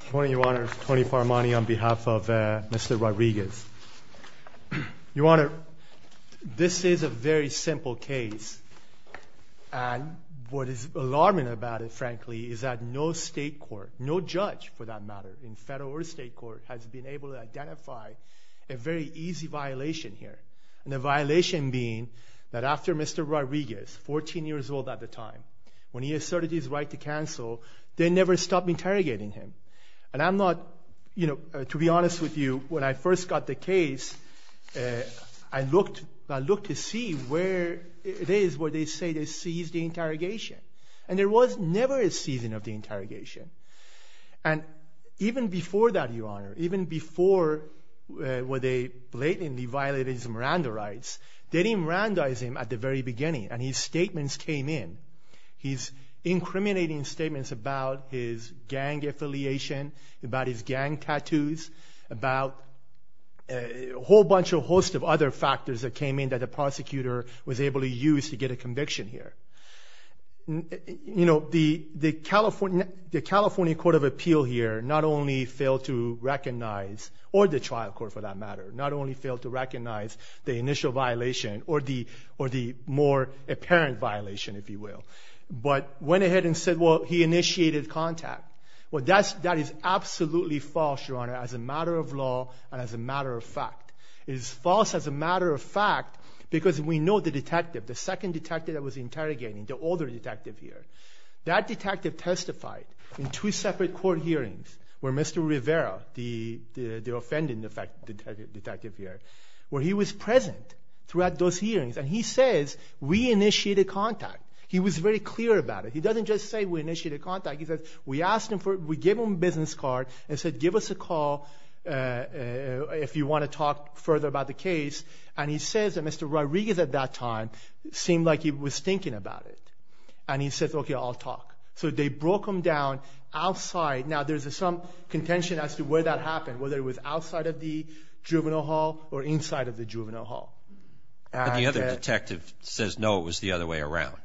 Good morning Your Honor, Tony Faramani on behalf of Mr. Rodriguez. Your Honor, this is a very simple case and what is alarming about it frankly is that no state court, no judge for that matter in federal or state court, has been able to identify a very easy violation here. And the violation being that after Mr. Rodriguez, 14 years old at the time, when he asserted his right to cancel, they never stopped interrogating him. And I'm not, you know, to be honest with you, when I first got the case, I looked to see where it is where they say they seized the interrogation. And there was never a seizing of the interrogation. And even before that, Your Honor, even before where they blatantly violated his Miranda rights, they didn't Mirandaize him at the very beginning and his statements came in. He's incriminating statements about his gang affiliation, about his gang tattoos, about a whole bunch of host of other factors that came in that the prosecutor was able to use to get a conviction here. You know, the California Court of Appeal here not only failed to recognize, or the trial court for that matter, not only failed to recognize the initial violation or the more apparent violation, if you will, but went ahead and said, well, he initiated contact. Well, that's that is absolutely false, Your Honor, as a matter of law and as a matter of fact. It is false as a matter of fact because we know the detective, the second detective that was interrogating, the older detective here, that detective testified in two separate court hearings where Mr. Rivera, the offended detective here, where he was present throughout those hearings. And he says, we initiated contact. He was very clear about it. He doesn't just say we initiated contact. He said, we asked him for, we gave him a business card and said, give us a call if you want to talk further about the case. And he says that Mr. Rodriguez at that time seemed like he was thinking about it. And he says, okay, I'll talk. So they broke him down outside. Now there's some contention as to where that happened, whether it was outside of the juvenile hall or inside of the juvenile hall. And the other detective says, no, it was the other way around.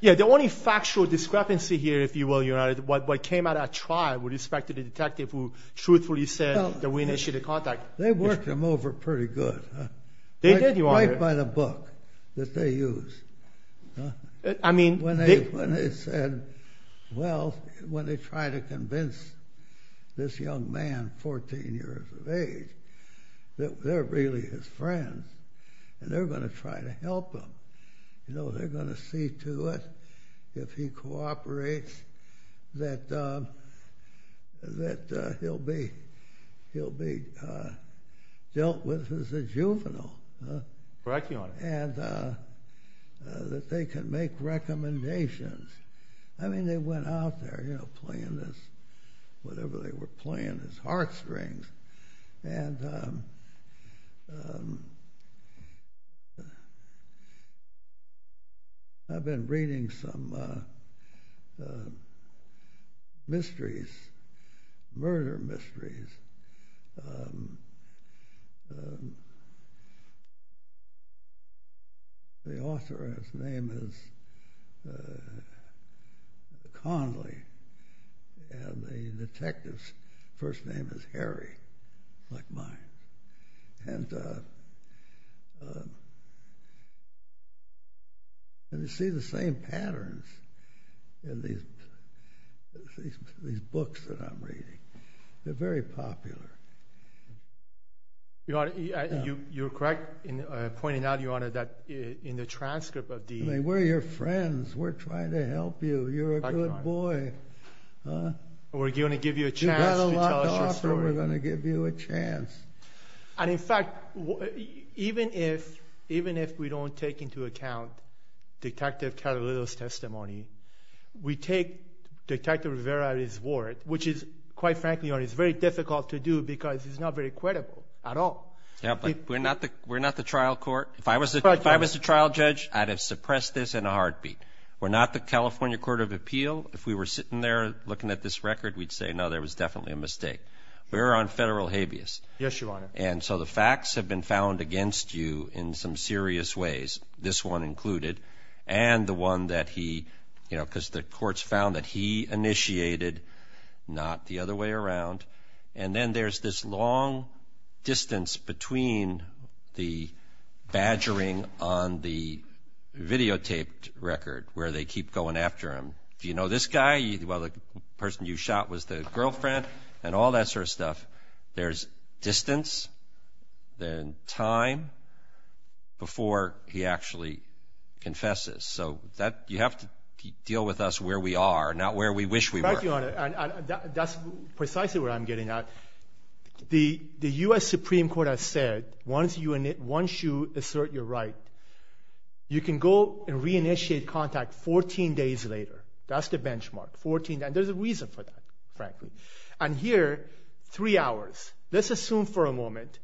Yeah, the only factual discrepancy here, if you will, Your Honor, what came out at trial with respect to the detective who truthfully said that we initiated contact. They worked him over pretty good. They did, Your Honor. Right by the book that they used. I mean, when they said, well, when they try to convince this young man, 14 years of age, that they're really his friends, and they're going to try to help him. You know, they're going to see to it if he cooperates, that he'll be dealt with as a juvenile. Correct, Your Honor. And that they can make recommendations. I mean, they went out there, you know, playing this, whatever they were playing, his heartstrings. And I've been reading some mysteries, murder mysteries. First name is Harry, like mine. And you see the same patterns in these books that I'm reading. They're very popular. You're correct in pointing out, Your Honor, that in the transcript of the... I mean, we're your friends. We're trying to help you. You're a good boy. We're going to give you a chance. You've had a lot to offer. We're going to give you a chance. And in fact, even if we don't take into account Detective Catalito's testimony, we take Detective Rivera's word, which is, quite frankly, Your Honor, it's very difficult to do because it's not very credible at all. Yeah, but we're not the trial court. If I was a trial judge, I'd have suppressed this in a heartbeat. We're not the California Court of Appeal. If we were sitting there looking at this record, we'd say, no, there was definitely a mistake. We're on federal habeas. Yes, Your Honor. And so the facts have been found against you in some serious ways, this one included, and the one that he, you know, because the courts found that he initiated, not the other way around. And then there's this long distance between the badgering on the videotaped record where they keep going after him. Do you know this guy? Well, the person you shot was the girlfriend and all that sort of stuff. There's distance, then time before he actually confesses. So you have to deal with us where we are, not where we wish we were. In fact, Your Honor, that's precisely where I'm getting at. The U.S. Supreme Court has said, once you assert your right, you can go and re-initiate contact 14 days later. That's the benchmark, 14 days. And there's a reason for that, frankly. And here, three hours. Let's assume for a moment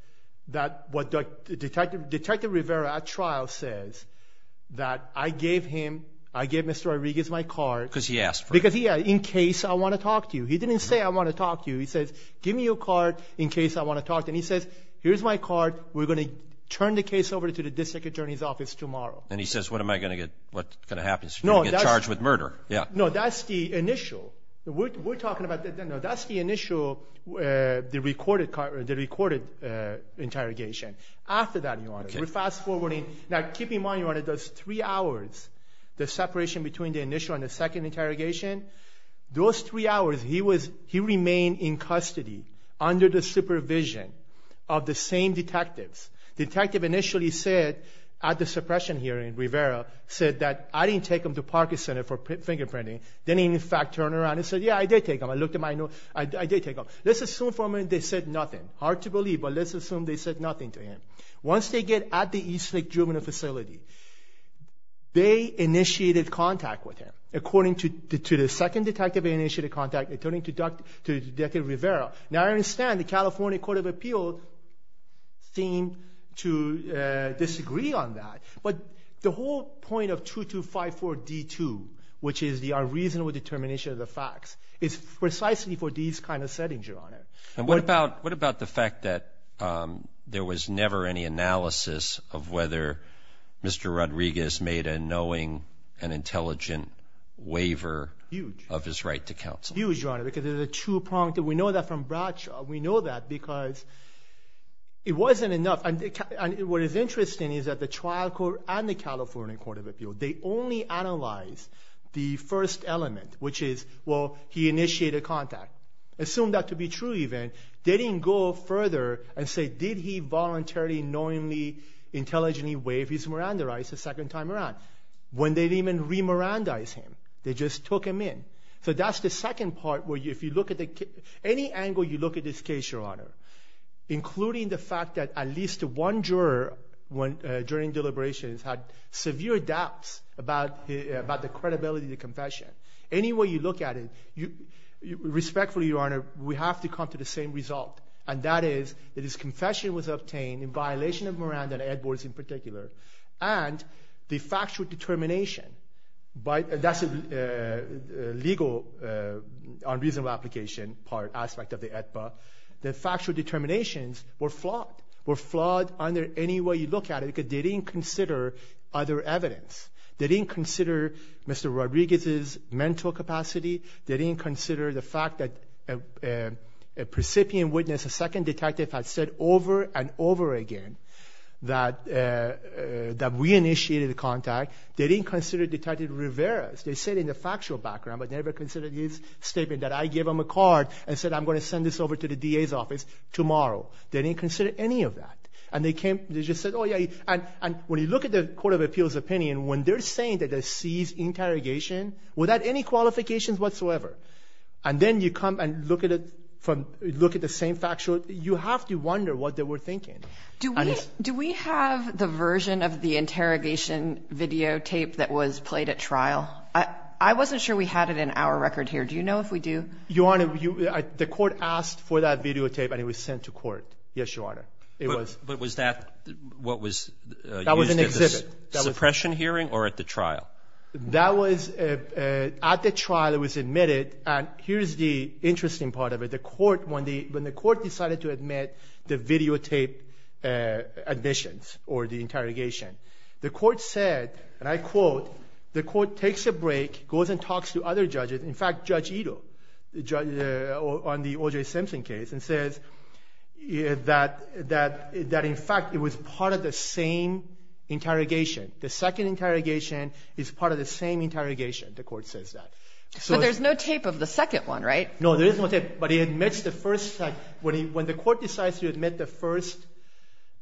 that what Detective Rivera at trial says, that I gave him, I gave Mr. Rodriguez my card. Because he asked for it. Because he, in case I want to talk to you. He didn't say I want to talk to you. He says, give me your card in case I want to talk to you. And he says, here's my card. We're going to turn the case over to the district attorney's office tomorrow. And he says, what am I going to get, what's going to happen? He's going to get charged with murder. Yeah. No, that's the initial. We're talking about, that's the initial, the recorded interrogation. After that, Your Honor, we're fast-forwarding. Now, keep in mind, Your Honor, those three hours, the separation between the initial and the second interrogation, those three hours he was, he remained in custody under the supervision of the same detectives. Detective initially said, at the suppression hearing, Rivera said that I didn't take him to Parker Center for fingerprinting. Then he, in fact, turned around and said, yeah, I did take him. I looked at my notes. I did take him. Let's assume for a minute they said nothing. Hard to believe, but let's assume they said nothing to him. Once they get at the Eastlake juvenile facility, they initiated contact with him. According to the second detective they initiated contact, according to Detective Rivera. Now, I understand the California Court of Appeals seemed to disagree on that. But the whole point of 2254 D-2, which is the unreasonable determination of the facts, is precisely for these kind of settings, Your Honor. And what about the fact that there was never any analysis of whether Mr. Rodriguez made a knowing and intelligent waiver of his right to counsel? Huge. Huge, Your Honor, because there's a two-pronged. We know that from Bradshaw. We know that because it wasn't enough. And what is interesting is that the trial court and the California Court of Appeals, they only analyzed the first element, which is, well, he initiated contact. Assume that to be true, even. They didn't go further and say, did he voluntarily, knowingly, intelligently waive his Miranda rights the second time around. When they didn't even re-Mirandaize him. They just took him in. So that's the second part, where if you look at the case, any angle you look at this case, Your Honor, including the fact that at least one juror during deliberations had severe doubts about the credibility of the confession. Any way you look at it, respectfully, Your Honor, we have to come to the same result. And that is, that his confession was obtained in violation of Miranda and Edwards in particular. And the factual determination, that's a legal, unreasonable application part, aspect of the AEDPA. The factual determinations were flawed. Were flawed under any way you look at it, because they didn't consider other evidence. They didn't consider Mr. Rodriguez's mental capacity. They didn't consider the fact that a precipient witness, a second detective, had said over and over again that we initiated a contact. They didn't consider Detective Rivera's. They said in the factual background, but never considered his statement that I gave him a card and said I'm going to send this over to the DA's office tomorrow. They didn't consider any of that. And they came, they just said, oh yeah, and when you look at the Court of Appeals opinion, when they're saying that they seized interrogation without any qualifications whatsoever, and then you come and look at it from, look at the same factual, you have to wonder what they were thinking. Do we have the version of the interrogation videotape that was played at trial? I wasn't sure we had it in our record here. Do you know if we do? Your Honor, the court asked for that videotape and it was sent to court. Yes, Your Honor. But was that what was used at the suppression hearing or at the trial? That was at the trial. It was admitted. And here's the interesting part of it. When the court decided to admit the videotape admissions or the interrogation, the court said, and I quote, the court takes a break, goes and talks to other judges, in fact, Judge Ito on the O.J. Simpson case and says that in fact it was part of the same interrogation. The second interrogation is part of the same interrogation, the court says that. But there's no tape of the second one, right? No, there is no tape, but when the court decides to admit the first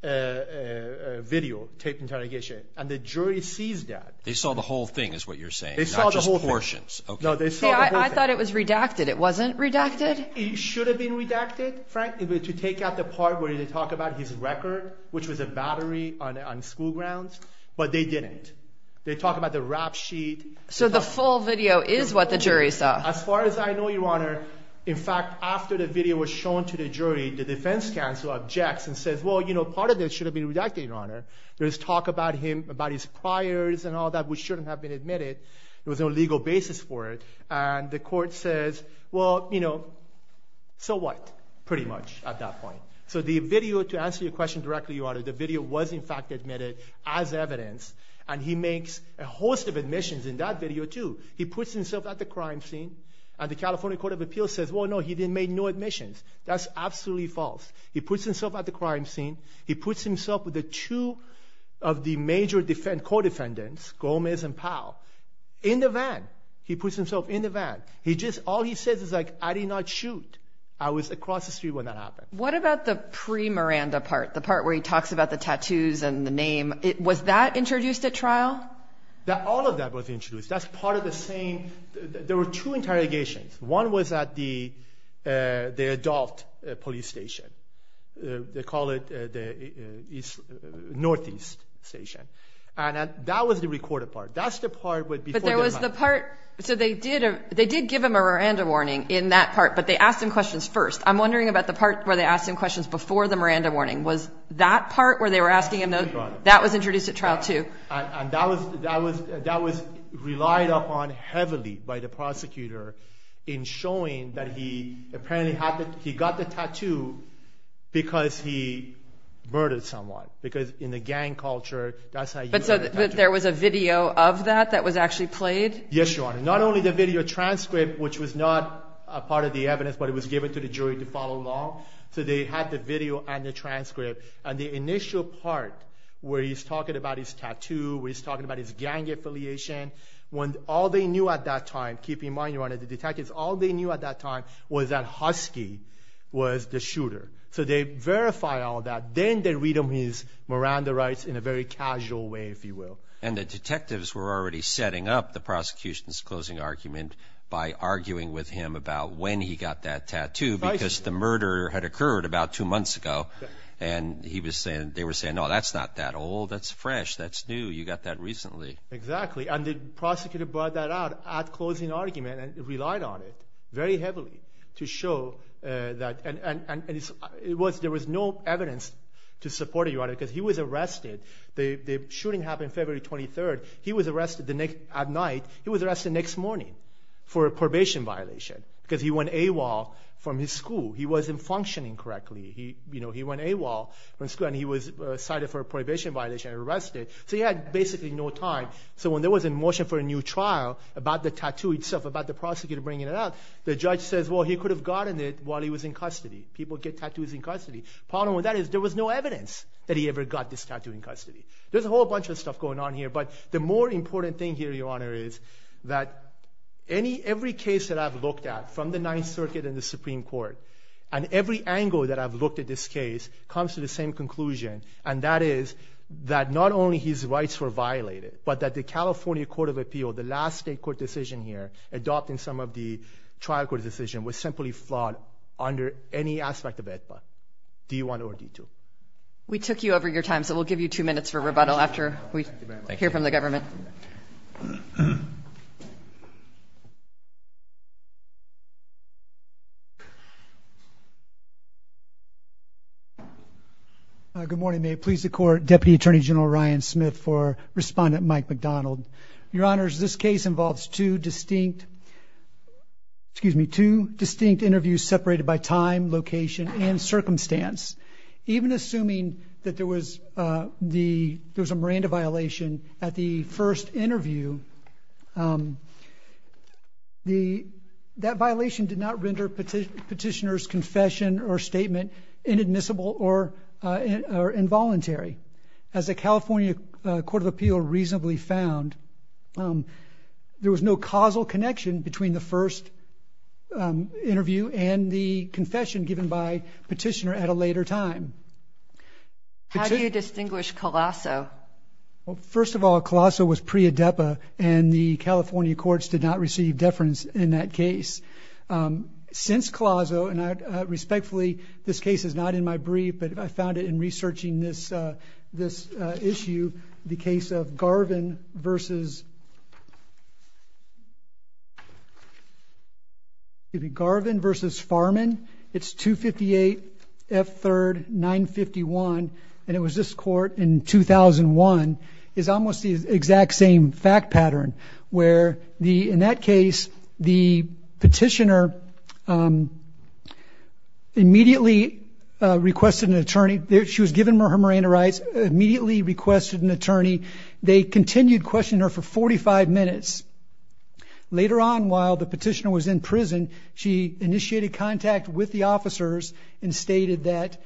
videotape interrogation and the jury sees that. They saw the whole thing is what you're saying, not just portions. No, they saw the whole thing. I thought it was redacted. It wasn't redacted? It should have been redacted, frankly, to take out the part where they talk about his record, which was a battery on school grounds, but they didn't. They talk about the rap sheet. So the full video is what the jury saw? As far as I know, Your Honor, in fact, after the video was shown to the jury, the defense counsel objects and says, well, you know, part of it should have been redacted, Your Honor. There's talk about his priors and all that which shouldn't have been admitted. There was no legal basis for it. And the court says, well, you know, so what, pretty much, at that point. So the video, to answer your question directly, Your Honor, the video was in fact admitted as evidence, and he makes a host of admissions in that video, too. He puts himself at the crime scene, and the California Court of Appeals says, well, no, he didn't make no admissions. That's absolutely false. He puts himself at the crime scene. He puts himself with the two of the major co-defendants, Gomez and Powell, in the van. He puts himself in the van. He just, all he says is, like, I did not shoot. I was across the street when that happened. What about the pre-Miranda part, the part where he talks about the tattoos and the name? Was that introduced at trial? All of that was introduced. That's part of the same, there were two interrogations. One was at the adult police station. They call it the Northeast station. And that was the recorded part. That's the part before the crime. So they did give him a Miranda warning in that part, but they asked him questions first. I'm wondering about the part where they asked him questions before the Miranda warning. Was that part where they were asking him, that was introduced at trial, too? And that was relied upon heavily by the prosecutor in showing that he apparently got the tattoo because he murdered someone. Because in the gang culture, that's how you get a tattoo. But so there was a video of that that was actually played? Yes, Your Honor. Not only the video transcript, which was not a part of the evidence, but it was given to the jury to follow along. So they had the video and the transcript. And the initial part where he's talking about his tattoo, where he's talking about his gang affiliation, when all they knew at that time, keep in mind, Your Honor, the detectives, all they knew at that time was that Husky was the shooter. So they verify all that. Then they read him his Miranda rights in a very casual way, if you will. And the detectives were already setting up the prosecution's closing argument by arguing with him about when he got that tattoo because the murder had occurred about two months ago. And they were saying, no, that's not that old, that's fresh, that's new. You got that recently. Exactly. And the prosecutor brought that out at closing argument and relied on it very heavily to show that. And there was no evidence to support it, Your Honor, because he was arrested. The shooting happened February 23rd. He was arrested at night. He was arrested next morning for a probation violation because he went AWOL from his school. He wasn't functioning correctly. He went AWOL from school and he was cited for a probation violation and arrested. So he had basically no time. So when there was a motion for a new trial about the tattoo itself, about the prosecutor bringing it out, the judge says, well, he could have gotten it while he was in custody. People get tattoos in custody. Problem with that is there was no evidence that he ever got this tattoo in custody. There's a whole bunch of stuff going on here. But the more important thing here, Your Honor, is that every case that I've looked at from the Ninth Circuit and the Supreme Court and every angle that I've looked at this case comes to the same conclusion, and that is that not only his rights were violated, but that the California Court of Appeal, the last state court decision here, adopting some of the trial court decision, was simply flawed under any aspect of AEDPA, D1 or D2. We took you over your time, so we'll give you two minutes for rebuttal after we hear from the government. Good morning. May it please the court. Deputy Attorney General Ryan Smith for Respondent Mike McDonald. Your Honors, this case involves two distinct, excuse me, two distinct interviews separated by time, location and circumstance. Even assuming that there was a Miranda violation at the first interview, was the petitioner's confession or statement inadmissible or involuntary? As the California Court of Appeal reasonably found, there was no causal connection between the first interview and the confession given by the petitioner at a later time. How do you distinguish Colasso? Well, first of all, Colasso was pre-AEDPA, and the California courts did not receive deference in that case. Since Colasso, and I respectfully, this case is not in my brief, but I found it in researching this issue, the case of Garvin versus Farman, it's 258 F3rd 951, and it was this court in 2001, is almost the exact same fact pattern, where in that case, the petitioner immediately requested an attorney. She was given her Miranda rights, immediately requested an attorney. They continued questioning her for 45 minutes. Later on, while the petitioner was in prison, she initiated contact with the officers and stated that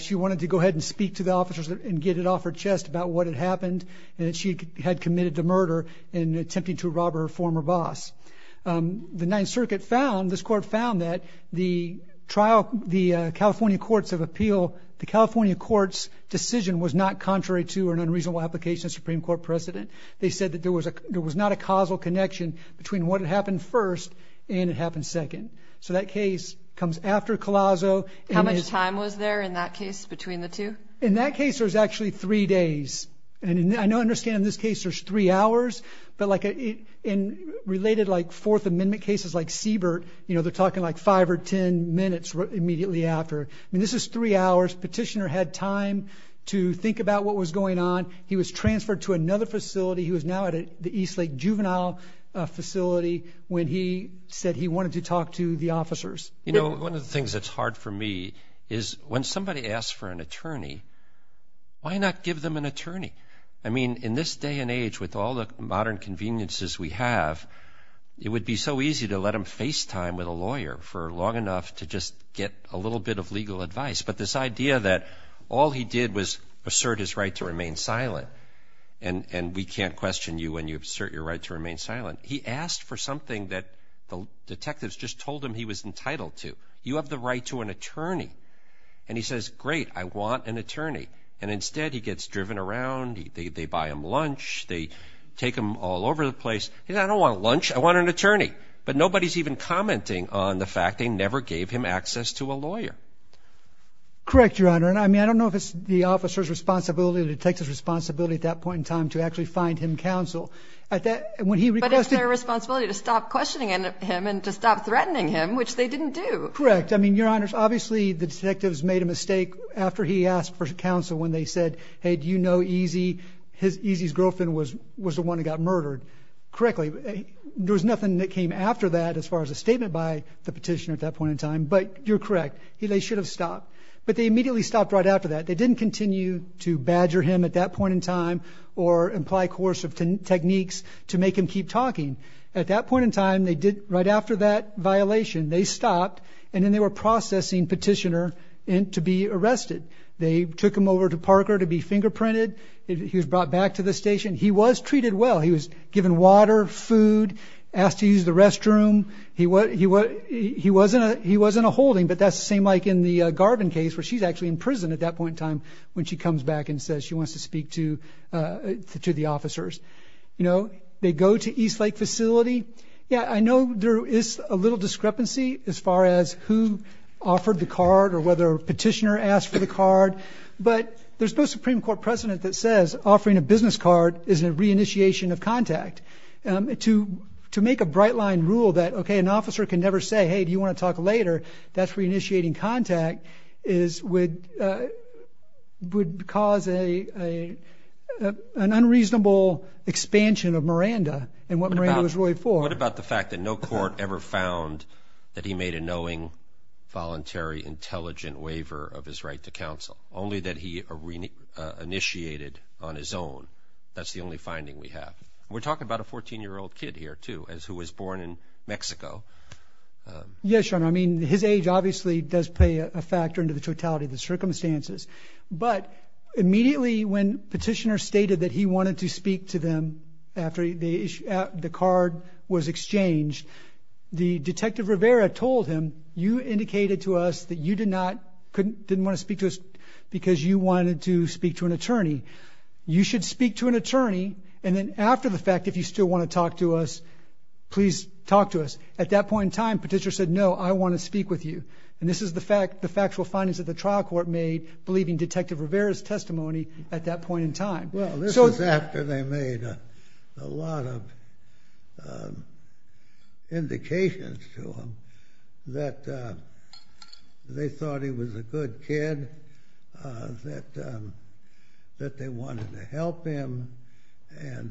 she wanted to go ahead and speak to the officers and get it off her chest about what had happened, and that she had committed the murder in attempting to rob her former boss. The Ninth Circuit found, this court found that the trial, the California courts of appeal, the California courts' decision was not contrary to an unreasonable application of Supreme Court precedent. They said that there was not a causal connection between what had happened first and it happened second. So that case comes after Colasso. How much time was there in that case between the two? In that case, there was actually three days. And I know, I understand in this case, there's three hours, but like in related like Fourth Amendment cases like Siebert, you know, they're talking like five or ten minutes immediately after. I mean, this is three hours. Petitioner had time to think about what was going on. He was transferred to another facility. He was now at the Eastlake Juvenile Facility when he said he wanted to talk to the officers. You know, one of the things that's hard for me is when somebody asks for an attorney, why not give them an attorney? I mean, in this day and age with all the modern conveniences we have, it would be so easy to let him FaceTime with a lawyer for long enough to just get a little bit of legal advice. But this idea that all he did was assert his right to remain silent, and we can't question you when you assert your right to remain silent. He asked for something that the detectives just told him he was entitled to. You have the right to an attorney. And he says, great, I want an attorney. And instead, he gets driven around, they buy him lunch, they take him all over the place. He said, I don't want lunch, I want an attorney. But nobody's even commenting on the fact they never gave him access to a lawyer. Correct, Your Honor. And I mean, I don't know if it's the officer's responsibility or the detective's responsibility at that point in time to actually find him counsel. At that, when he requested- But it's their responsibility to stop questioning him and to stop threatening him, which they didn't do. Correct. I mean, Your Honors, obviously, the detectives made a mistake after he asked for counsel when they said, hey, do you know EZ? EZ's girlfriend was the one who got murdered. Correctly, there was nothing that came after that as far as a statement by the petitioner at that point in time, but you're correct, they should have stopped. But they immediately stopped right after that. They didn't continue to badger him at that point in time or imply coercive techniques to make him keep talking. At that point in time, right after that violation, they stopped and then they were processing petitioner to be arrested. They took him over to Parker to be fingerprinted. He was brought back to the station. He was treated well. He was given water, food, asked to use the restroom. He wasn't a holding, but that's the same like in the Garvin case, where she's actually in prison at that point in time, when she comes back and says she wants to speak to the officers. They go to Eastlake Facility. Yeah, I know there is a little discrepancy as far as who offered the card or whether a petitioner asked for the card. But there's no Supreme Court precedent that says offering a business card is a re-initiation of contact. To make a bright line rule that, okay, an officer can never say, hey, do you want to talk later, that's re-initiating contact, would cause an unreasonable expansion of Miranda and what Miranda was roped for. What about the fact that no court ever found that he made a knowing, voluntary, intelligent waiver of his right to counsel, only that he initiated on his own? That's the only finding we have. We're talking about a 14-year-old kid here, too, who was born in Mexico. Yes, your honor, I mean, his age obviously does play a factor into the totality of the circumstances. But immediately when petitioner stated that he wanted to speak to them after the card was exchanged, the detective Rivera told him, you indicated to us that you did not, didn't want to speak to us because you wanted to speak to an attorney. You should speak to an attorney, and then after the fact, if you still want to talk to us, please talk to us. At that point in time, petitioner said, no, I want to speak with you. And this is the factual findings that the trial court made, believing Detective Rivera's testimony at that point in time. Well, this was after they made a lot of indications to him that they thought he was a good kid, that they wanted to help him, and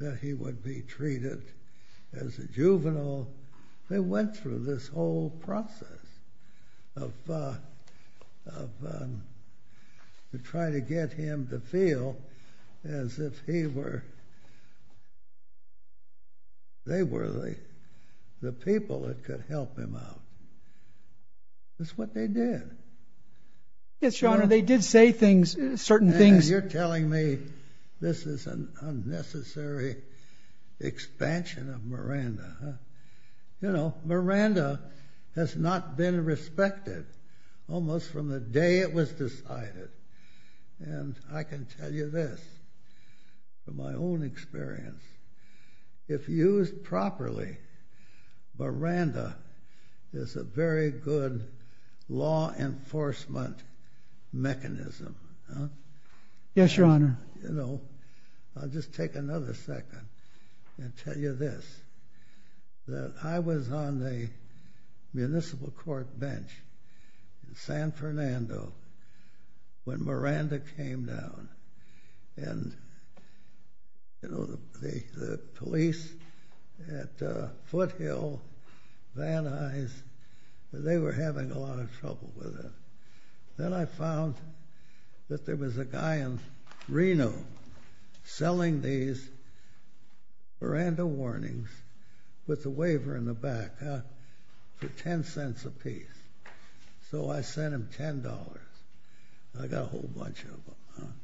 that he would be treated as a juvenile. They went through this whole process of trying to get him to feel as if they were the people that could help him out. That's what they did. Yes, your honor, they did say certain things. You're telling me this is an unnecessary expansion of Miranda. You know, Miranda has not been respected almost from the day it was decided. And I can tell you this, from my own experience, if used properly, Miranda is a very good law enforcement mechanism. Yes, your honor. I'll just take another second and tell you this, that I was on the municipal court bench in San Fernando when Miranda came down. And the police at Foothill, Van Nuys, they were having a lot of trouble with it. Then I found that there was a guy in Reno selling these Miranda warnings with the waiver in the back for $0.10 apiece. So I sent him $10. I got a whole bunch of them.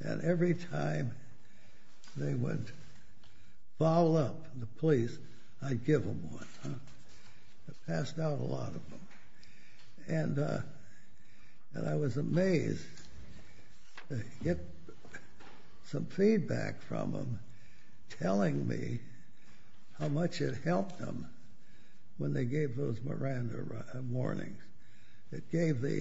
And every time they would foul up the police, I'd give them one. I passed out a lot of them. And I was amazed to get some feedback from them telling me how much it helped them when they gave those Miranda warnings. It gave the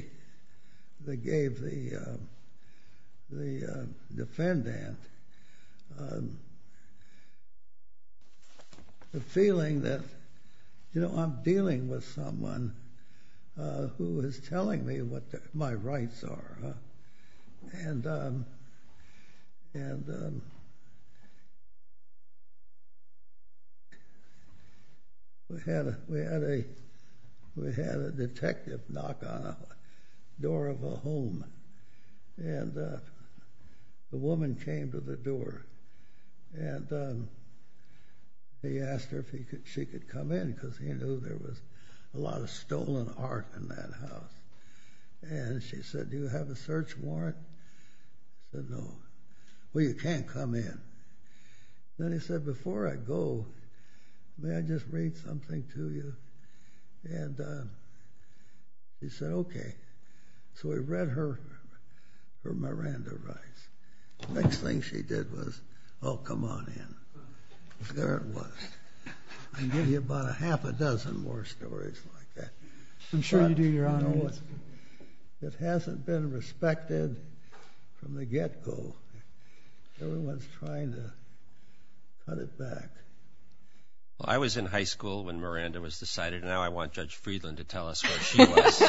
defendant the feeling that I'm dealing with someone who is telling me what my rights are. And we had a detective knock on the door of a home. And the woman came to the door. And he asked her if she could come in, because he knew there was a lot of stolen art in that house. And she said, do you have a search warrant? He said, no. Well, you can't come in. Then he said, before I go, may I just read something to you? And she said, OK. So he read her Miranda rights. Next thing she did was, oh, come on in. There it was. I can give you about a half a dozen more stories like that. I'm sure you do, Your Honor. It hasn't been respected from the get-go. Everyone's trying to cut it back. I was in high school when Miranda was decided. And now I want Judge Friedland to tell us where she was.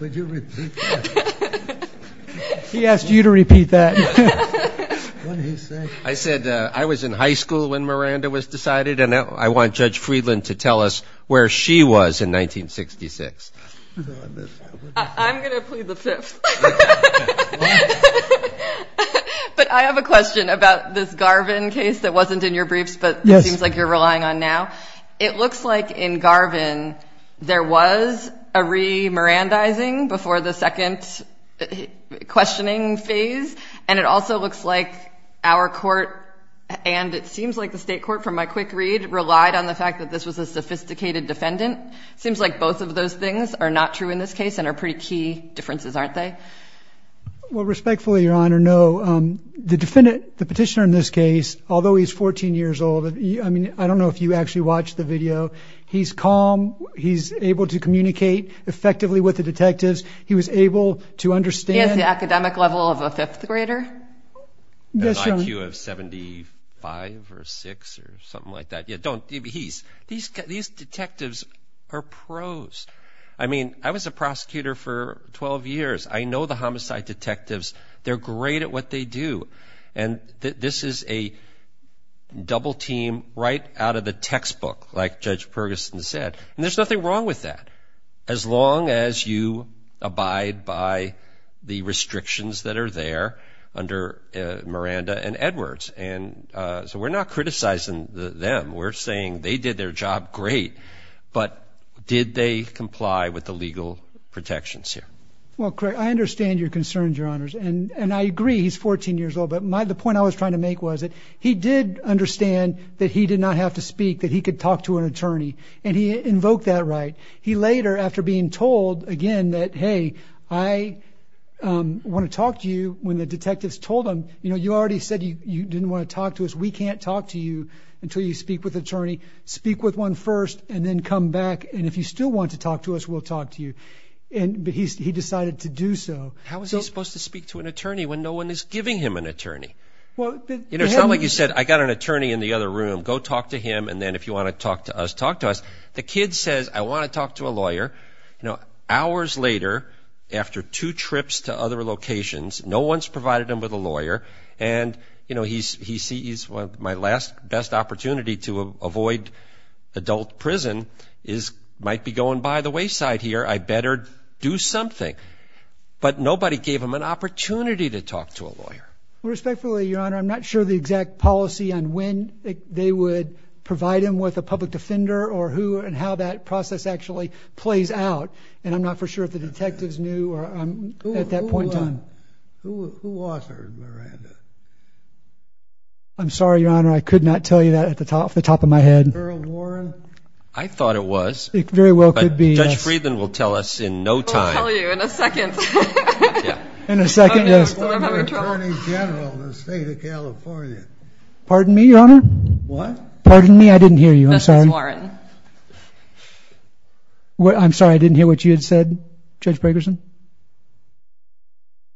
Would you repeat that? He asked you to repeat that. I said, I was in high school when Miranda was decided. And now I want Judge Friedland to tell us where she was in 1966. I'm going to plead the fifth. But I have a question about this Garvin case that wasn't in your briefs, but it seems like you're relying on now. It looks like in Garvin, there was a re-Mirandizing before the second questioning phase. And it also looks like our court, and it seems like the state court from my quick read, relied on the fact that this was a sophisticated defendant. Seems like both of those things are not true in this case and are pretty key differences, aren't they? Well, respectfully, Your Honor, no. The defendant, the petitioner in this case, although he's 14 years old, I mean, I don't know if you actually watched the video. He's calm. He's able to communicate effectively with the detectives. He was able to understand. He has the academic level of a fifth grader? Yes, Your Honor. And an IQ of 75 or 6 or something like that. Yeah, don't. These detectives are pros. I mean, I was a prosecutor for 12 years. I know the homicide detectives. They're great at what they do. And this is a double team right out of the textbook, like Judge Perguson said. And there's nothing wrong with that, as long as you abide by the restrictions that are there under Miranda and Edwards. And so we're not criticizing them. We're saying they did their job great. But did they comply with the legal protections here? Well, Craig, I understand your concerns, Your Honors. And I agree he's 14 years old. But the point I was trying to make was that he did understand that he did not have to speak, that he could talk to an attorney. And he invoked that right. He later, after being told, again, that, hey, I want to talk to you, when the detectives told him, you already said you didn't want to talk to us. We can't talk to you until you speak with an attorney. Speak with one first, and then come back. And if you still want to talk to us, we'll talk to you. But he decided to do so. How is he supposed to speak to an attorney when no one is giving him an attorney? It's not like you said, I got an attorney in the other room. Go talk to him. And then if you want to talk to us, talk to us. The kid says, I want to talk to a lawyer. Hours later, after two trips to other locations, no one's provided him with a lawyer. And he sees my last best opportunity to avoid adult prison might be going by the wayside here. I better do something. But nobody gave him an opportunity to talk to a lawyer. Respectfully, Your Honor, I'm not sure the exact policy on when they would provide him with a public defender, or who, and how that process actually plays out. And I'm not for sure if the detectives knew at that point in time. Who authored Miranda? I'm sorry, Your Honor. I could not tell you that off the top of my head. Earl Warren? I thought it was. Very well could be, yes. Judge Friedland will tell us in no time. We'll tell you in a second. In a second, yes. I'm an attorney general in the state of California. Pardon me, Your Honor? What? Pardon me, I didn't hear you. Chief Justice Warren. I'm sorry, I didn't hear what you had said, Judge Bragerson.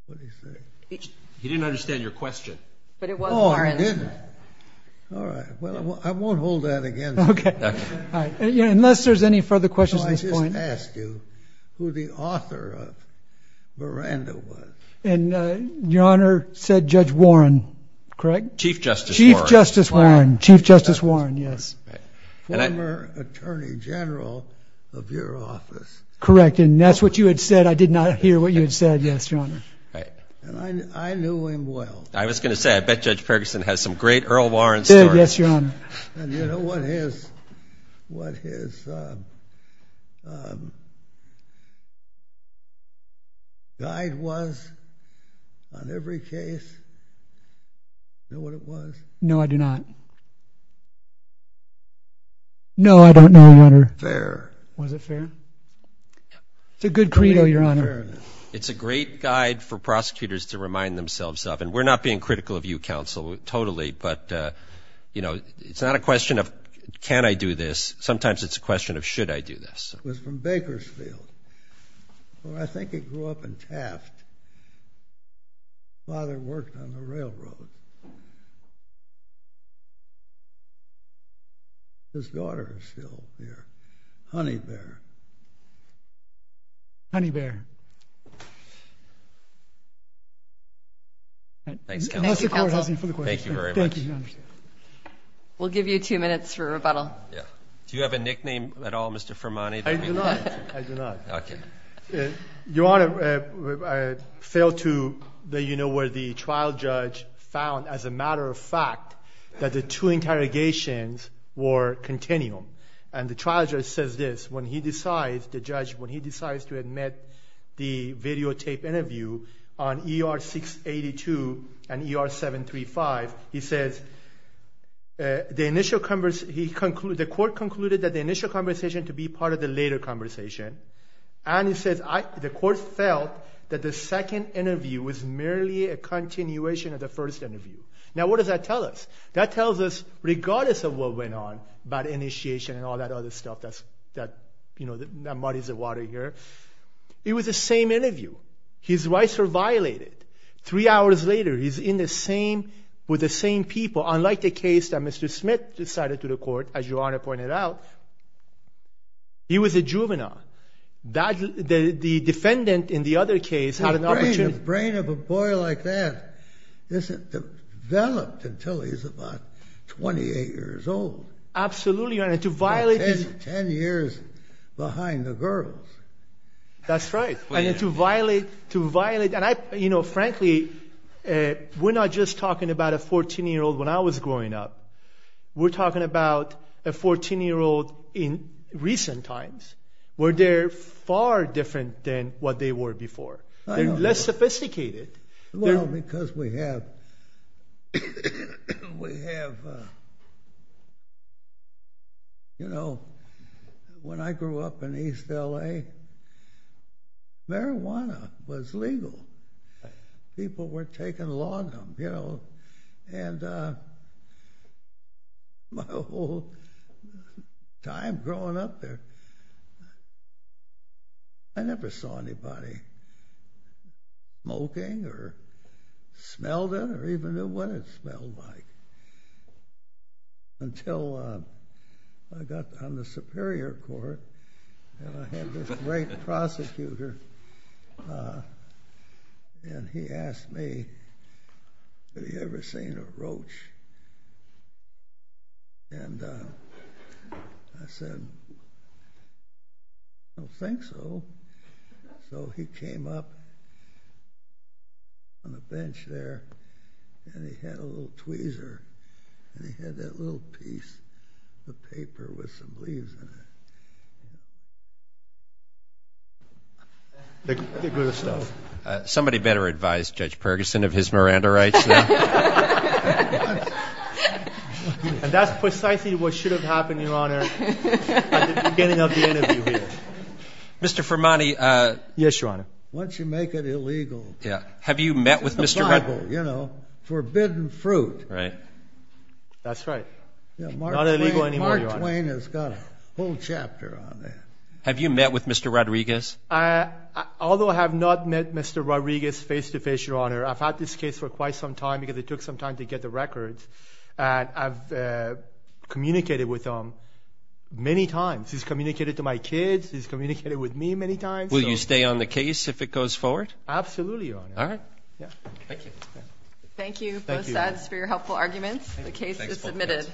What did he say? He didn't understand your question. But it was Warren. Oh, he didn't. All right, well, I won't hold that against you. OK. Unless there's any further questions at this point. I just asked you who the author of Miranda was. And Your Honor said Judge Warren, correct? Chief Justice Warren. Chief Justice Warren. Chief Justice Warren, yes. Former attorney general of your office. Correct, and that's what you had said. I did not hear what you had said, yes, Your Honor. And I knew him well. I was going to say, I bet Judge Bragerson has some great Earl Warren stories. Yes, Your Honor. And you know what his guide was on every case? Know what it was? No, I do not. No, I don't know, Your Honor. Fair. Was it fair? It's a good credo, Your Honor. It's a great guide for prosecutors to remind themselves of. And we're not being critical of you, counsel, totally. But it's not a question of, can I do this? Sometimes it's a question of, should I do this? It was from Bakersfield, where I think it grew up in Taft. His father worked on the railroad. His daughter is still here. Honeybear. Honeybear. Thank you, counsel. That's the court housing for the question. Thank you very much. Thank you, Your Honor. We'll give you two minutes for rebuttal. Yeah. Do you have a nickname at all, Mr. Fermante? I do not. I do not. OK. Your Honor, I failed to let you know where the trial judge found, as a matter of fact, that the two interrogations were continual. And the trial judge says this. When he decides, the judge, when he decides to admit the videotape interview on ER 682 and ER 735, he says, the court concluded that the initial conversation to be part of the later conversation and he says, the court felt that the second interview was merely a continuation of the first interview. Now, what does that tell us? That tells us, regardless of what went on about initiation and all that other stuff that muddies the water here, it was the same interview. His rights were violated. Three hours later, he's with the same people, unlike the case that Mr. Smith decided to the court, as Your Honor pointed out. He was a juvenile. The defendant in the other case had an opportunity. The brain of a boy like that isn't developed until he's about 28 years old. Absolutely, Your Honor. To violate his. 10 years behind the girls. That's right. And to violate, to violate. And I, you know, frankly, we're not just talking about a 14-year-old when I was growing up. We're talking about a 14-year-old in recent times, where they're far different than what they were before. They're less sophisticated. Well, because we have, we have, you know, when I grew up in East L.A., marijuana was legal. People were taking lawn, you know. And my whole time growing up there, I never saw anybody smoking or smelled it, or even knew what it smelled like. Until I got on the Superior Court, and I had this great prosecutor, and he asked me, have you ever seen a roach? And I said, I don't think so. So he came up on the bench there, and he had a little tweezer, and he had that little piece of paper with some leaves in it. They grew the stuff. Somebody better advise Judge Perguson of his Miranda rights, though. And that's precisely what should have happened, Your Honor, at the beginning of the interview here. Mr. Fermani. Yes, Your Honor. Once you make it illegal. Yeah. Have you met with Mr. Fermani? It's the Bible, you know. Forbidden fruit. Right. That's right. Not illegal anymore, Your Honor. Mark Twain has got a whole chapter on that. Have you met with Mr. Rodriguez? Although I have not met Mr. Rodriguez face-to-face, Your Honor, I've had this case for quite some time, because it took some time to get the records, and I've communicated with him many times. He's communicated to my kids. He's communicated with me many times. Will you stay on the case if it goes forward? Absolutely, Your Honor. All right. Thank you. Thank you, both sides, for your helpful arguments. The case is submitted.